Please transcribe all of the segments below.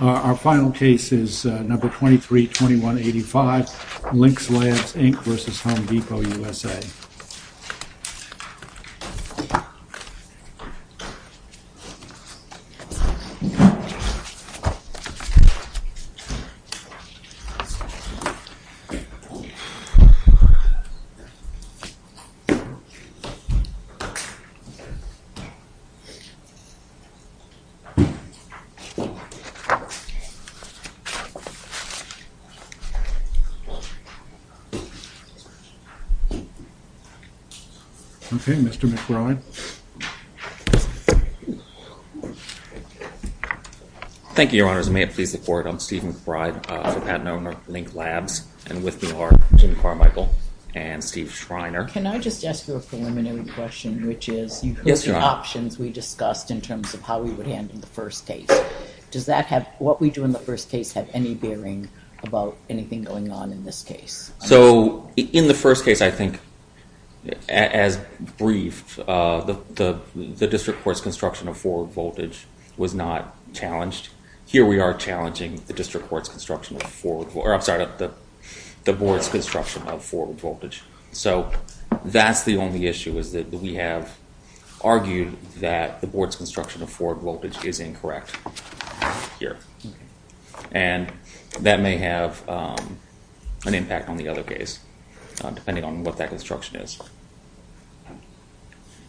Our final case is number 232185, Lynk Labs, Inc. v. Home Depot, U.S.A. Okay, Mr. McBride. Thank you, Your Honors. May it please the Court, I'm Steve McBride, the Patent Owner of Lynk Labs, and with me are Jim Carmichael and Steve Schreiner. Can I just ask you a preliminary question, which is, you've heard the options we discussed in terms of how we would handle the first case. Does that have, what we do in the first case, have any bearing about anything going on in this case? So, in the first case, I think, as briefed, the District Court's construction of forward voltage was not challenged. Here we are challenging the District Court's construction of forward, or I'm sorry, the Board's construction of forward voltage. So, that's the only issue, is that we have argued that the Board's construction of forward voltage is incorrect here. And that may have an impact on the other case, depending on what that construction is.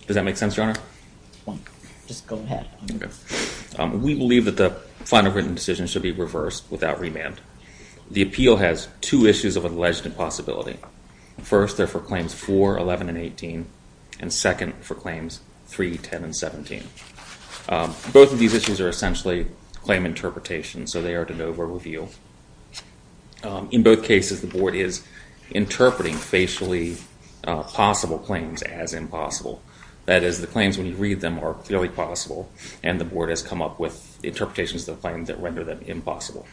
Does that make sense, Your Honor? Just go ahead. Okay. We believe that the final written decision should be reversed without remand. The appeal has two issues of alleged impossibility. First, they're for Claims 4, 11, and 18. And second, for Claims 3, 10, and 17. Both of these issues are essentially claim interpretations, so they are to no avail. In both cases, the Board is interpreting facially possible claims as impossible. That is, the claims, when you read them, are clearly possible, and the Board has come up with interpretations that render them impossible.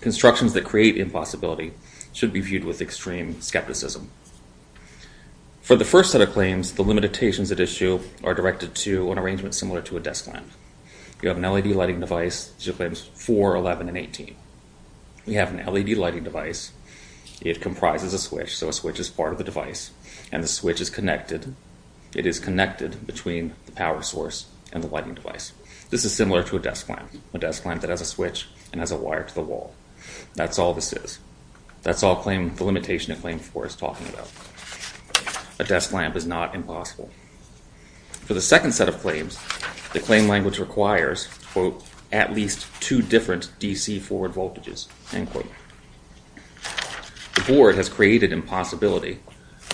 Constructions that create impossibility should be viewed with extreme skepticism. For the first set of claims, the limitations at issue are directed to an arrangement similar to a desk lamp. You have an LED lighting device, which is Claims 4, 11, and 18. We have an LED lighting device. It comprises a switch, so a switch is part of the device, and the switch is connected. It is connected between the power source and the lighting device. This is similar to a desk lamp, a desk lamp that has a switch and has a wire to the wall. That's all this is. That's all the limitation of Claims 4 is talking about. A desk lamp is not impossible. For the second set of claims, the claim language requires at least two different DC forward voltages. The Board has created impossibility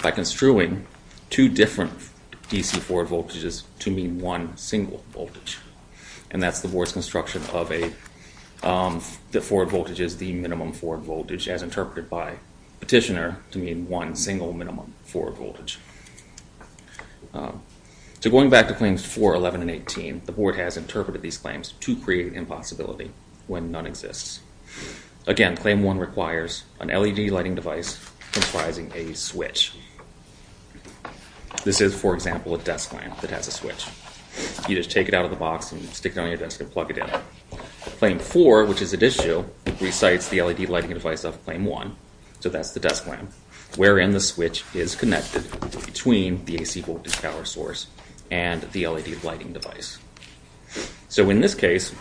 by construing two different DC forward voltages to mean one single voltage, and that's the Board's construction of the forward voltages, the minimum forward voltage, as interpreted by Petitioner to mean one single minimum forward voltage. So going back to Claims 4, 11, and 18, the Board has interpreted these claims to create impossibility when none exists. Again, Claim 1 requires an LED lighting device comprising a switch. This is, for example, a desk lamp that has a switch. You just take it out of the box and stick it on your desk and plug it in. Claim 4, which is at issue, recites the LED lighting device of Claim 1, so that's the desk lamp, wherein the switch is connected between the AC voltage power source and the LED lighting device. So in this case,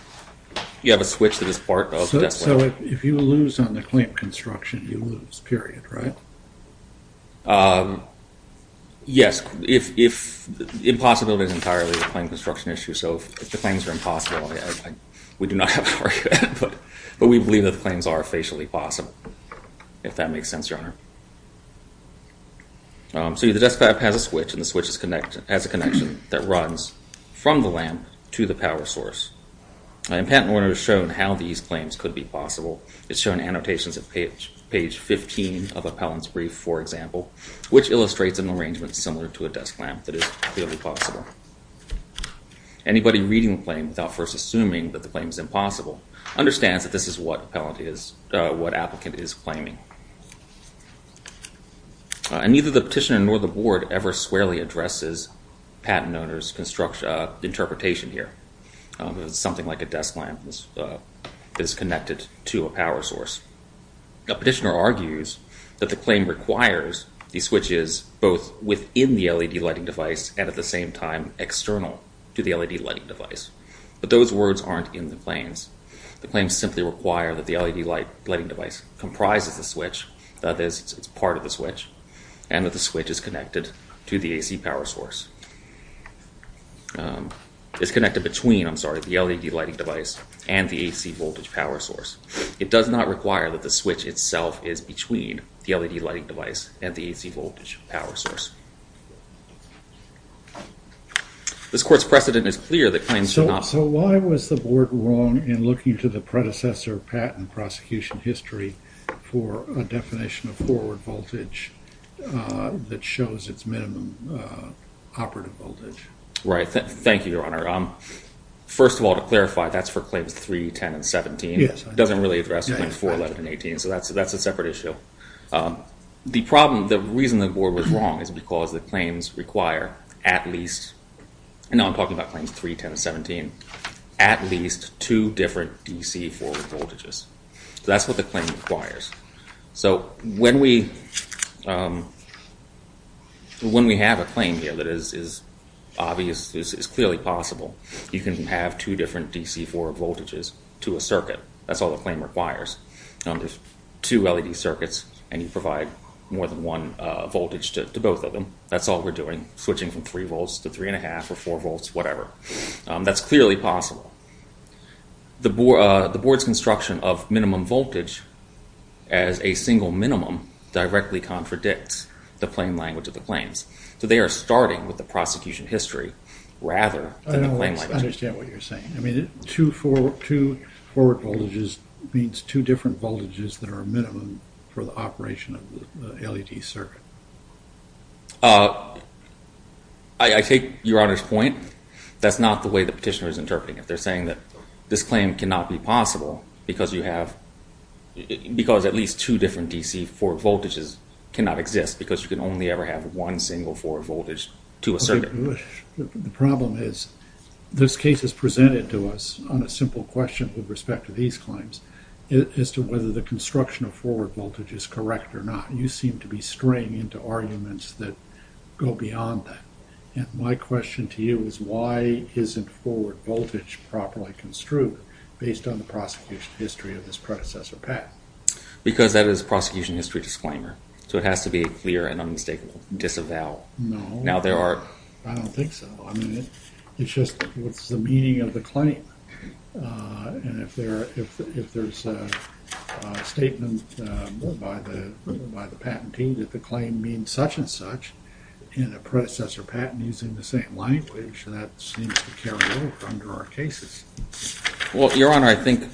you have a switch that is part of the desk lamp. So if you lose on the claim construction, you lose, period, right? Yes, impossibility is entirely a claim construction issue, so if the claims are impossible, we do not have to argue that, but we believe that the claims are facially possible, if that makes sense, Your Honor. So the desk lamp has a switch, and the switch has a connection that runs from the lamp to the power source. And Patent and Order has shown how these claims could be possible. It's shown annotations at page 15 of Appellant's brief, for example, which illustrates an arrangement similar to a desk lamp that is clearly possible. Anybody reading the claim without first assuming that the claim is impossible understands that this is what Appellant is, what applicant is claiming. And neither the petitioner nor the board ever squarely addresses Patent and Order's interpretation here. It's something like a desk lamp that is connected to a power source. The petitioner argues that the claim requires the switches both within the LED lighting device and at the same time external to the LED lighting device. But those words aren't in the claims. The claims simply require that the LED lighting device comprises the switch, that it's part of the switch, and that the switch is connected to the AC power source. It's connected between, I'm sorry, the LED lighting device and the AC voltage power source. It does not require that the switch itself is between the LED lighting device and the AC voltage power source. This court's precedent is clear that claims do not- So why was the board wrong in looking to the predecessor patent prosecution history for a definition of forward voltage that shows its minimum operative voltage? Right. Thank you, Your Honor. First of all, to clarify, that's for Claims 3, 10, and 17. It doesn't really address Claims 4, 11, and 18, so that's a separate issue. The problem, the reason the board was wrong is because the claims require at least, and now I'm talking about Claims 3, 10, and 17, at least two different DC forward voltages. That's what the claim requires. So when we have a claim here that is obvious, is clearly possible, you can have two different DC forward voltages to a circuit. That's all the claim requires. There's two LED circuits, and you provide more than one voltage to both of them. That's all we're doing, switching from 3 volts to 3 1⁄2 or 4 volts, whatever. That's clearly possible. The board's construction of minimum voltage as a single minimum directly contradicts the plain language of the claims. So they are starting with the prosecution history rather than the plain language. I don't understand what you're saying. I mean, two forward voltages means two different voltages that are minimum for the operation of the LED circuit. I take Your Honor's point. That's not the way the petitioner is interpreting it. They're saying that this claim cannot be possible because at least two different DC forward voltages cannot exist because you can only ever have one single forward voltage to a circuit. The problem is, this case is presented to us on a simple question with respect to these claims, as to whether the construction of forward voltage is correct or not. You seem to be straying into arguments that go beyond that. My question to you is, why isn't forward voltage properly construed based on the prosecution history of this predecessor path? Because that is a prosecution history disclaimer. So it has to be clear and unmistakable. No. Now there are... I don't think so. I mean, it's just what's the meaning of the claim. And if there's a statement by the patentee that the claim means such and such in a predecessor patent using the same language, that seems to carry over under our cases. Well, Your Honor, I think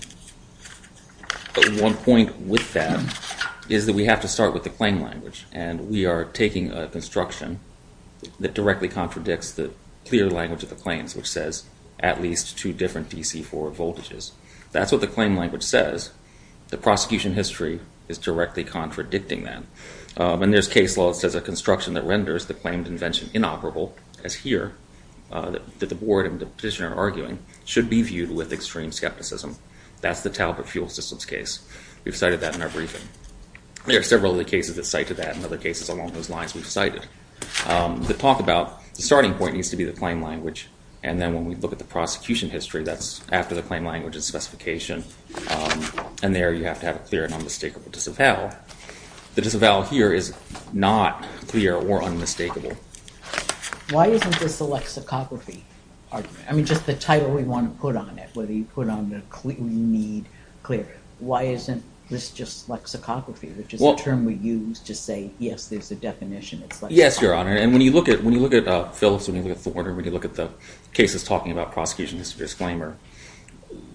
one point with that is that we have to start with the claim language. And we are taking a construction that directly contradicts the clear language of the claims, which says at least two different DC forward voltages. That's what the claim language says. The prosecution history is directly contradicting that. And there's case law that says a construction that renders the claimed invention inoperable, as here, that the board and the petitioner are arguing, should be viewed with extreme skepticism. That's the Talbot fuel systems case. We've cited that in our briefing. There are several other cases that cite to that and other cases along those lines we've cited. The talk about the starting point needs to be the claim language. And then when we look at the prosecution history, that's after the claim language and specification. And there you have to have a clear and unmistakable disavowal. The disavowal here is not clear or unmistakable. Why isn't this a lexicography argument? I mean, just the title we want to put on it, or whatever you put on it, we need clear. Why isn't this just lexicography, which is a term we use to say, yes, there's a definition. Yes, Your Honor. And when you look at Phillips, when you look at Thorner, when you look at the cases talking about prosecution history disclaimer,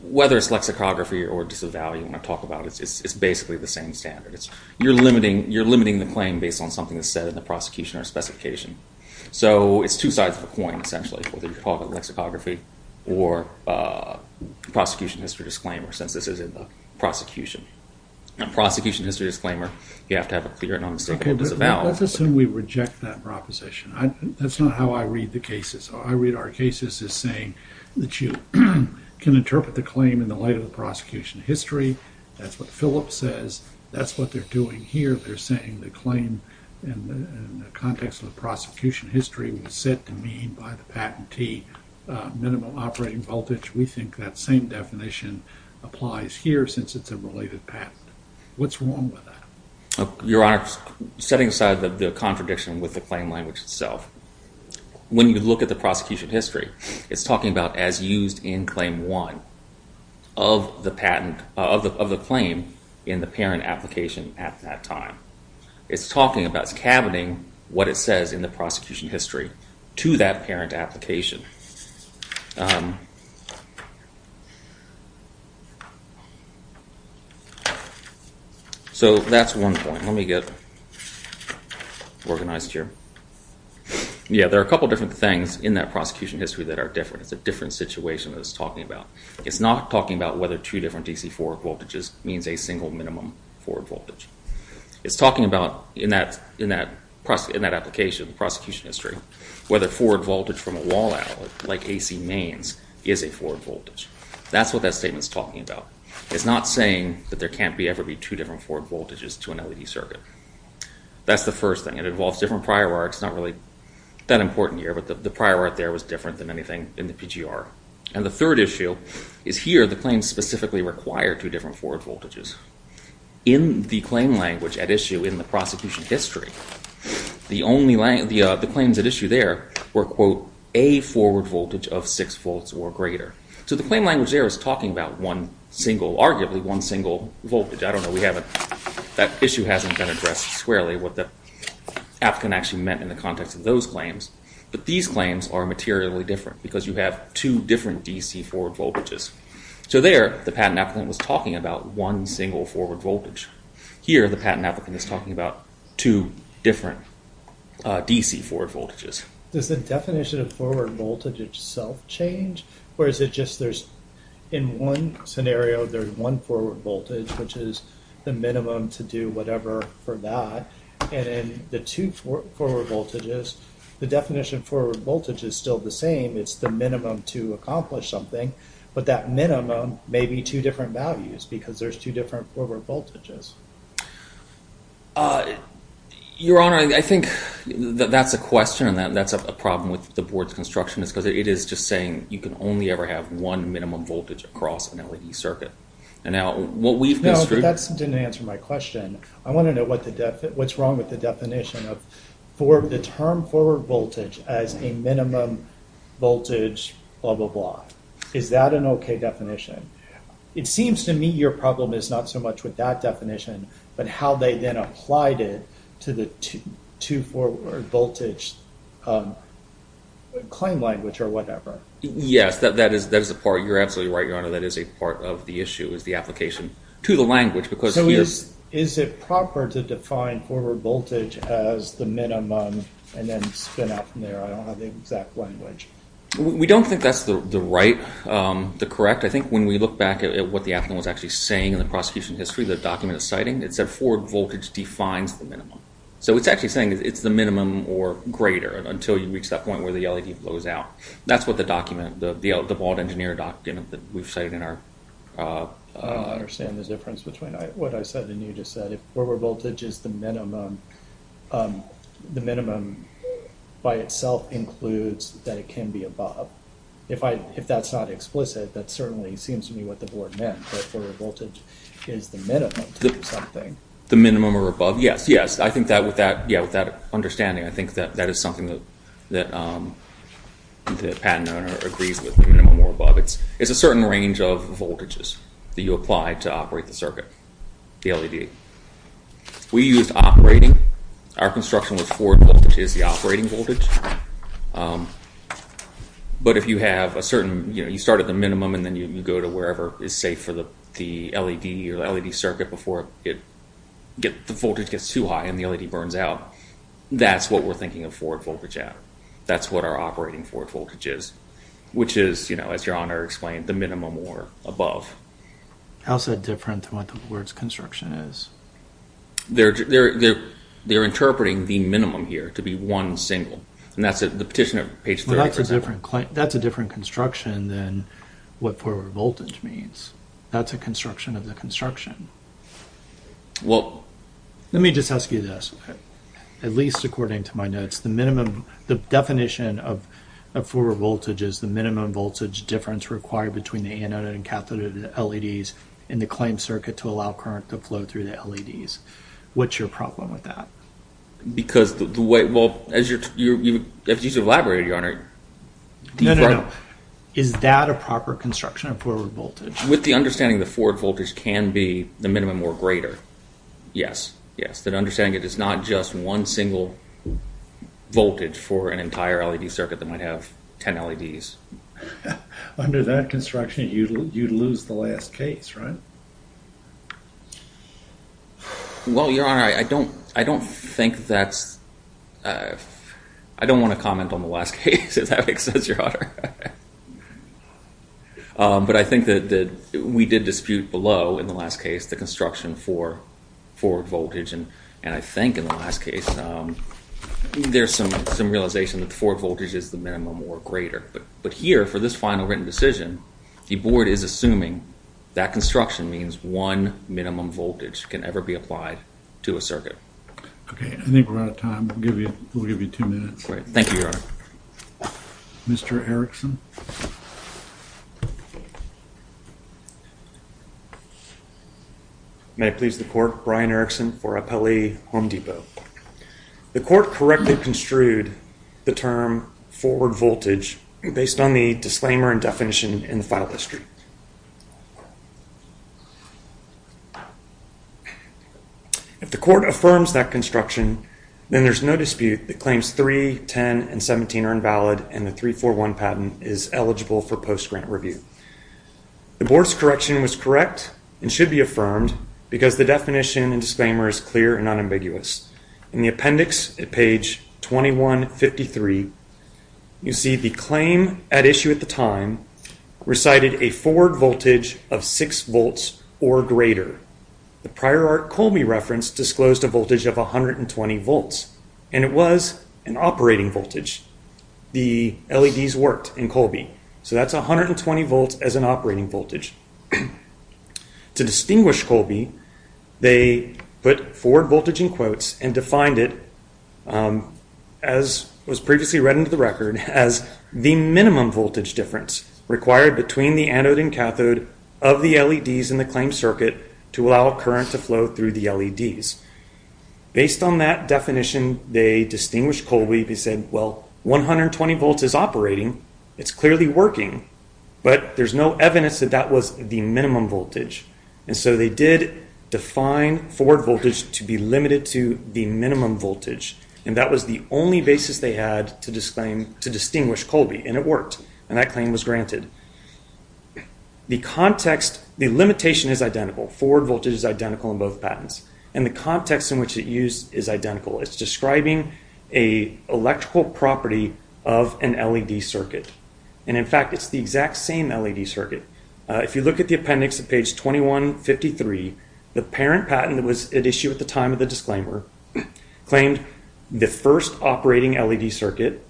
whether it's lexicography or disavowal you want to talk about, it's basically the same standard. You're limiting the claim based on something that's said in the prosecution or specification. So it's two sides of a coin, essentially, whether you call it lexicography or prosecution history disclaimer, since this is in the prosecution. In a prosecution history disclaimer, you have to have a clear and unmistakable disavowal. Let's assume we reject that proposition. That's not how I read the cases. How I read our cases is saying that you can interpret the claim in the light of the prosecution history. That's what Phillips says. That's what they're doing here. They're saying the claim in the context of the prosecution history was said to mean by the patentee minimal operating voltage. We think that same definition applies here, since it's a related patent. What's wrong with that? Your Honor, setting aside the contradiction with the claim language itself, when you look at the prosecution history, it's talking about as used in Claim 1 of the patent, of the claim in the parent application at that time. It's talking about, it's cabining what it says in the prosecution history to that parent application. So that's one point. Let me get organized here. Yeah, there are a couple of different things in that prosecution history that are different. It's a different situation that it's talking about. It's not talking about whether two different DC forward voltages means a single minimum forward voltage. It's talking about, in that application, the prosecution history, whether forward voltage from a wall outlet, like AC mains, is a forward voltage. That's what that statement's talking about. It's not saying that there can't ever be two different forward voltages to an LED circuit. That's the first thing. It involves different prior arts, not really that important here, but the prior art there was different than anything in the PGR. And the third issue is here, whether the claim specifically required two different forward voltages. In the claim language at issue in the prosecution history, the claims at issue there were, quote, a forward voltage of 6 volts or greater. So the claim language there is talking about one single, arguably one single voltage. I don't know. We haven't, that issue hasn't been addressed squarely, what the applicant actually meant in the context of those claims. But these claims are materially different because you have two different DC forward voltages. So there, the patent applicant was talking about one single forward voltage. Here, the patent applicant is talking about two different DC forward voltages. Does the definition of forward voltage itself change? Or is it just there's, in one scenario, there's one forward voltage, which is the minimum to do whatever for that. And then the two forward voltages, the definition for voltage is still the same. It's the minimum to accomplish something. But that minimum may be two different values because there's two different forward voltages. Your Honor, I think that that's a question and that's a problem with the board's construction. It's because it is just saying you can only ever have one minimum voltage across an LED circuit. And now what we've construed... No, that didn't answer my question. I want to know what's wrong with the definition of or the term forward voltage as a minimum voltage, blah, blah, blah. Is that an okay definition? It seems to me your problem is not so much with that definition, but how they then applied it to the two forward voltage claim language or whatever. Yes, that is a part. You're absolutely right, Your Honor. That is a part of the issue, is the application to the language. So is it proper to define forward voltage as the minimum and then spin out from there? I don't have the exact language. We don't think that's the right, the correct. I think when we look back at what the applicant was actually saying in the prosecution history, the document it's citing, it said forward voltage defines the minimum. So it's actually saying it's the minimum or greater until you reach that point where the LED blows out. That's what the document, the bald engineer document that we've cited in our... I don't understand the difference between what I said and you just said. If forward voltage is the minimum, the minimum by itself includes that it can be above. If that's not explicit, that certainly seems to me what the board meant, that forward voltage is the minimum to do something. The minimum or above? Yes, yes. I think that with that understanding, I think that is something that the patent owner agrees with, the minimum or above. It's a certain range of voltages that you apply to operate the circuit, the LED. We used operating. Our construction with forward voltage is the operating voltage. But if you have a certain, you start at the minimum and then you go to wherever is safe for the LED or LED circuit before the voltage gets too high and the LED burns out, that's what we're thinking of forward voltage at. That's what our operating forward voltage is, which is, as Your Honor explained, the minimum or above. How is that different from what the board's construction is? They're interpreting the minimum here to be one single, and that's the petitioner, page 30, for example. That's a different construction than what forward voltage means. That's a construction of the construction. Well... Let me just ask you this. At least according to my notes, the minimum, the definition of forward voltage is the minimum voltage difference required between the anode and cathode LEDs in the claimed circuit to allow current to flow through the LEDs. What's your problem with that? Because the way, well, as you've elaborated, Your Honor. No, no, no. Is that a proper construction of forward voltage? With the understanding the forward voltage can be the minimum or greater. Yes, yes. The understanding it is not just one single voltage for an entire LED circuit that might have 10 LEDs. Under that construction, you'd lose the last case, right? Well, Your Honor, I don't think that's... I don't want to comment on the last case, as that makes sense, Your Honor. But I think that we did dispute below in the last case the construction for forward voltage, and I think in the last case there's some realization that the forward voltage is the minimum or greater. But here, for this final written decision, the Board is assuming that construction means one minimum voltage can ever be applied to a circuit. Okay. I think we're out of time. We'll give you two minutes. Great. Thank you, Your Honor. Mr. Erickson? May I please the Court? Brian Erickson for Appellee Home Depot. The Court correctly construed the term forward voltage based on the disclaimer and definition in the file history. If the Court affirms that construction, then there's no dispute that claims 3, 10, and 17 are invalid and the 341 patent is eligible for post-grant review. The Board's correction was correct and should be affirmed because the definition and disclaimer is clear and unambiguous. In the appendix at page 2153, you see the claim at issue at the time recited a forward voltage of 6 volts or greater. The prior art Colby reference disclosed a voltage of 120 volts, and it was an operating voltage. The LEDs worked in Colby, so that's 120 volts as an operating voltage. To distinguish Colby, they put forward voltage in quotes and defined it, as was previously read into the record, as the minimum voltage difference required between the anode and cathode of the LEDs in the claimed circuit to allow current to flow through the LEDs. Based on that definition, they distinguished Colby. They said, well, 120 volts is operating. It's clearly working, but there's no evidence that that was the minimum voltage, and so they did define forward voltage to be limited to the minimum voltage, and that was the only basis they had to distinguish Colby, and it worked, and that claim was granted. The context, the limitation is identical. Forward voltage is identical in both patents, and the context in which it's used is identical. It's describing an electrical property of an LED circuit, and in fact, it's the exact same LED circuit. If you look at the appendix at page 2153, the parent patent that was at issue at the time of the disclaimer claimed the first operating LED circuit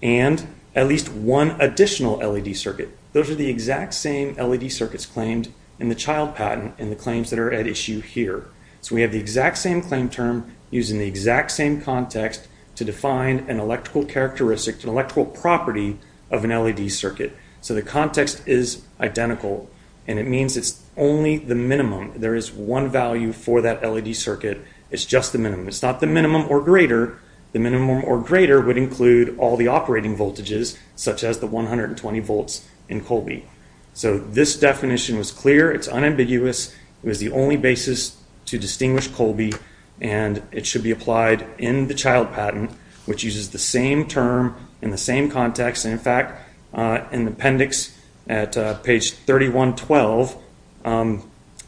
and at least one additional LED circuit. Those are the exact same LED circuits claimed in the child patent in the claims that are at issue here, so we have the exact same claim term using the exact same context to define an electrical characteristic, an electrical property of an LED circuit, so the context is identical, and it means it's only the minimum. There is one value for that LED circuit. It's just the minimum. It's not the minimum or greater. The minimum or greater would include all the operating voltages, such as the 120 volts in Colby, so this definition was clear. It's unambiguous. It was the only basis to distinguish Colby, and it should be applied in the child patent, which uses the same term in the same context, and in fact, in the appendix at page 3112,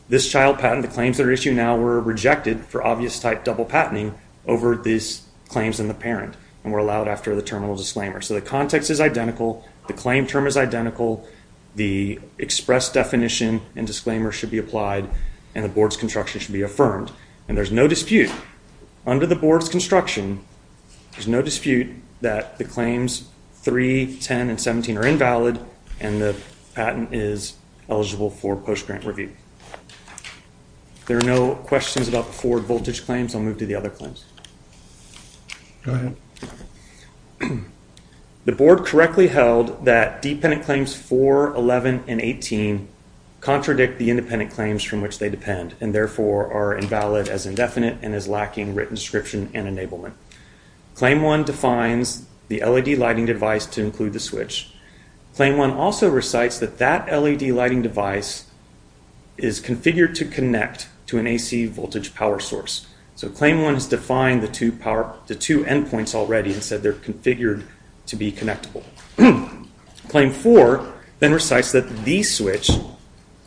this child patent, the claims that are at issue now, were rejected for obvious type double patenting over these claims in the parent and were allowed after the terminal disclaimer, so the context is identical. The claim term is identical. The express definition and disclaimer should be applied, and the board's construction should be affirmed, and there's no dispute. Under the board's construction, there's no dispute that the claims 3, 10, and 17 are invalid, and the patent is eligible for post-grant review. There are no questions about the forward voltage claims. I'll move to the other claims. Go ahead. The board correctly held that dependent claims 4, 11, and 18 contradict the independent claims from which they depend and therefore are invalid as indefinite and as lacking written description and enablement. Claim 1 defines the LED lighting device to include the switch. Claim 1 also recites that that LED lighting device is configured to connect to an AC voltage power source, so Claim 1 has defined the two endpoints already and said they're configured to be connectable. Claim 4 then recites that the switch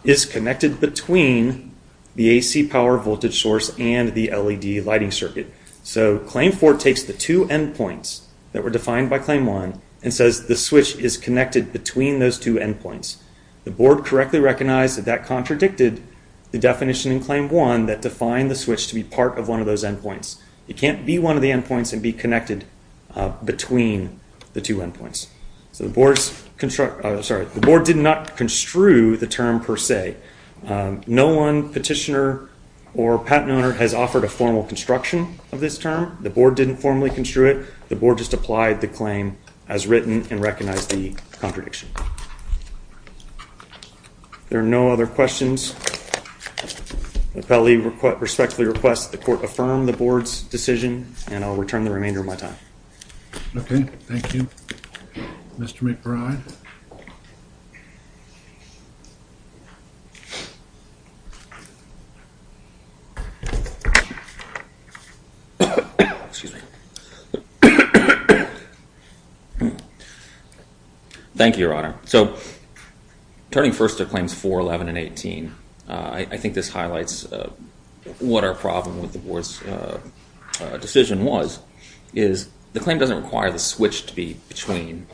is connected between the AC power voltage source and the LED lighting circuit, so Claim 4 takes the two endpoints that were defined by Claim 1 and says the switch is connected between those two endpoints. The board correctly recognized that that contradicted the definition in Claim 1 that defined the switch to be part of one of those endpoints. It can't be one of the endpoints and be connected between the two endpoints. The board did not construe the term per se. No one petitioner or patent owner has offered a formal construction of this term. The board didn't formally construe it. The board just applied the claim as written and recognized the contradiction. There are no other questions. The appellee respectfully requests the court affirm the board's decision and I'll return the remainder of my time. Okay, thank you. Mr. McBride. Thank you, Your Honor. So, turning first to Claims 4, 11, and 18, I think this highlights what our problem with the board's decision was, is the claim doesn't require the switch to be between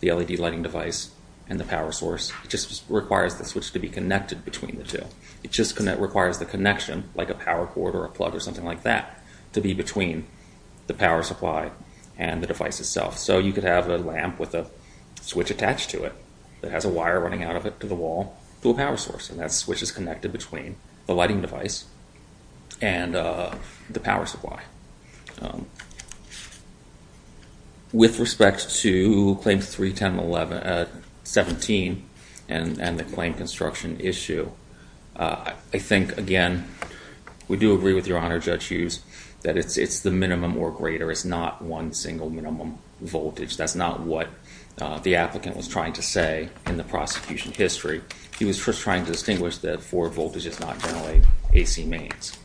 the LED lighting device and the power source. It just requires the switch to be connected between the two. It just requires the connection, like a power cord or a plug or something like that, to be between the power supply and the device itself. So you could have a lamp with a switch attached to it that has a wire running out of it to the wall to a power source, and that switch is connected between the lighting device and the power supply. With respect to Claims 3, 10, and 17 and the claim construction issue, I think, again, we do agree with Your Honor, Judge Hughes, that it's the minimum or greater. There is not one single minimum voltage. That's not what the applicant was trying to say in the prosecution history. He was just trying to distinguish that forward voltage does not generate AC mains.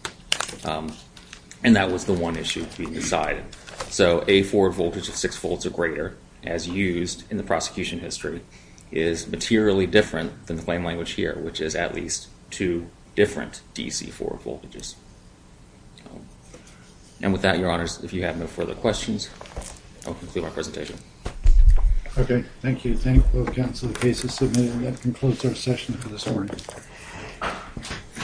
And that was the one issue we decided. So a forward voltage of 6 volts or greater, as used in the prosecution history, is materially different than the claim language here, which is at least two different DC forward voltages. And with that, Your Honors, if you have no further questions, I'll conclude our presentation. Okay. Thank you. Thank you, both counsel and cases submitted. That concludes our session for this morning.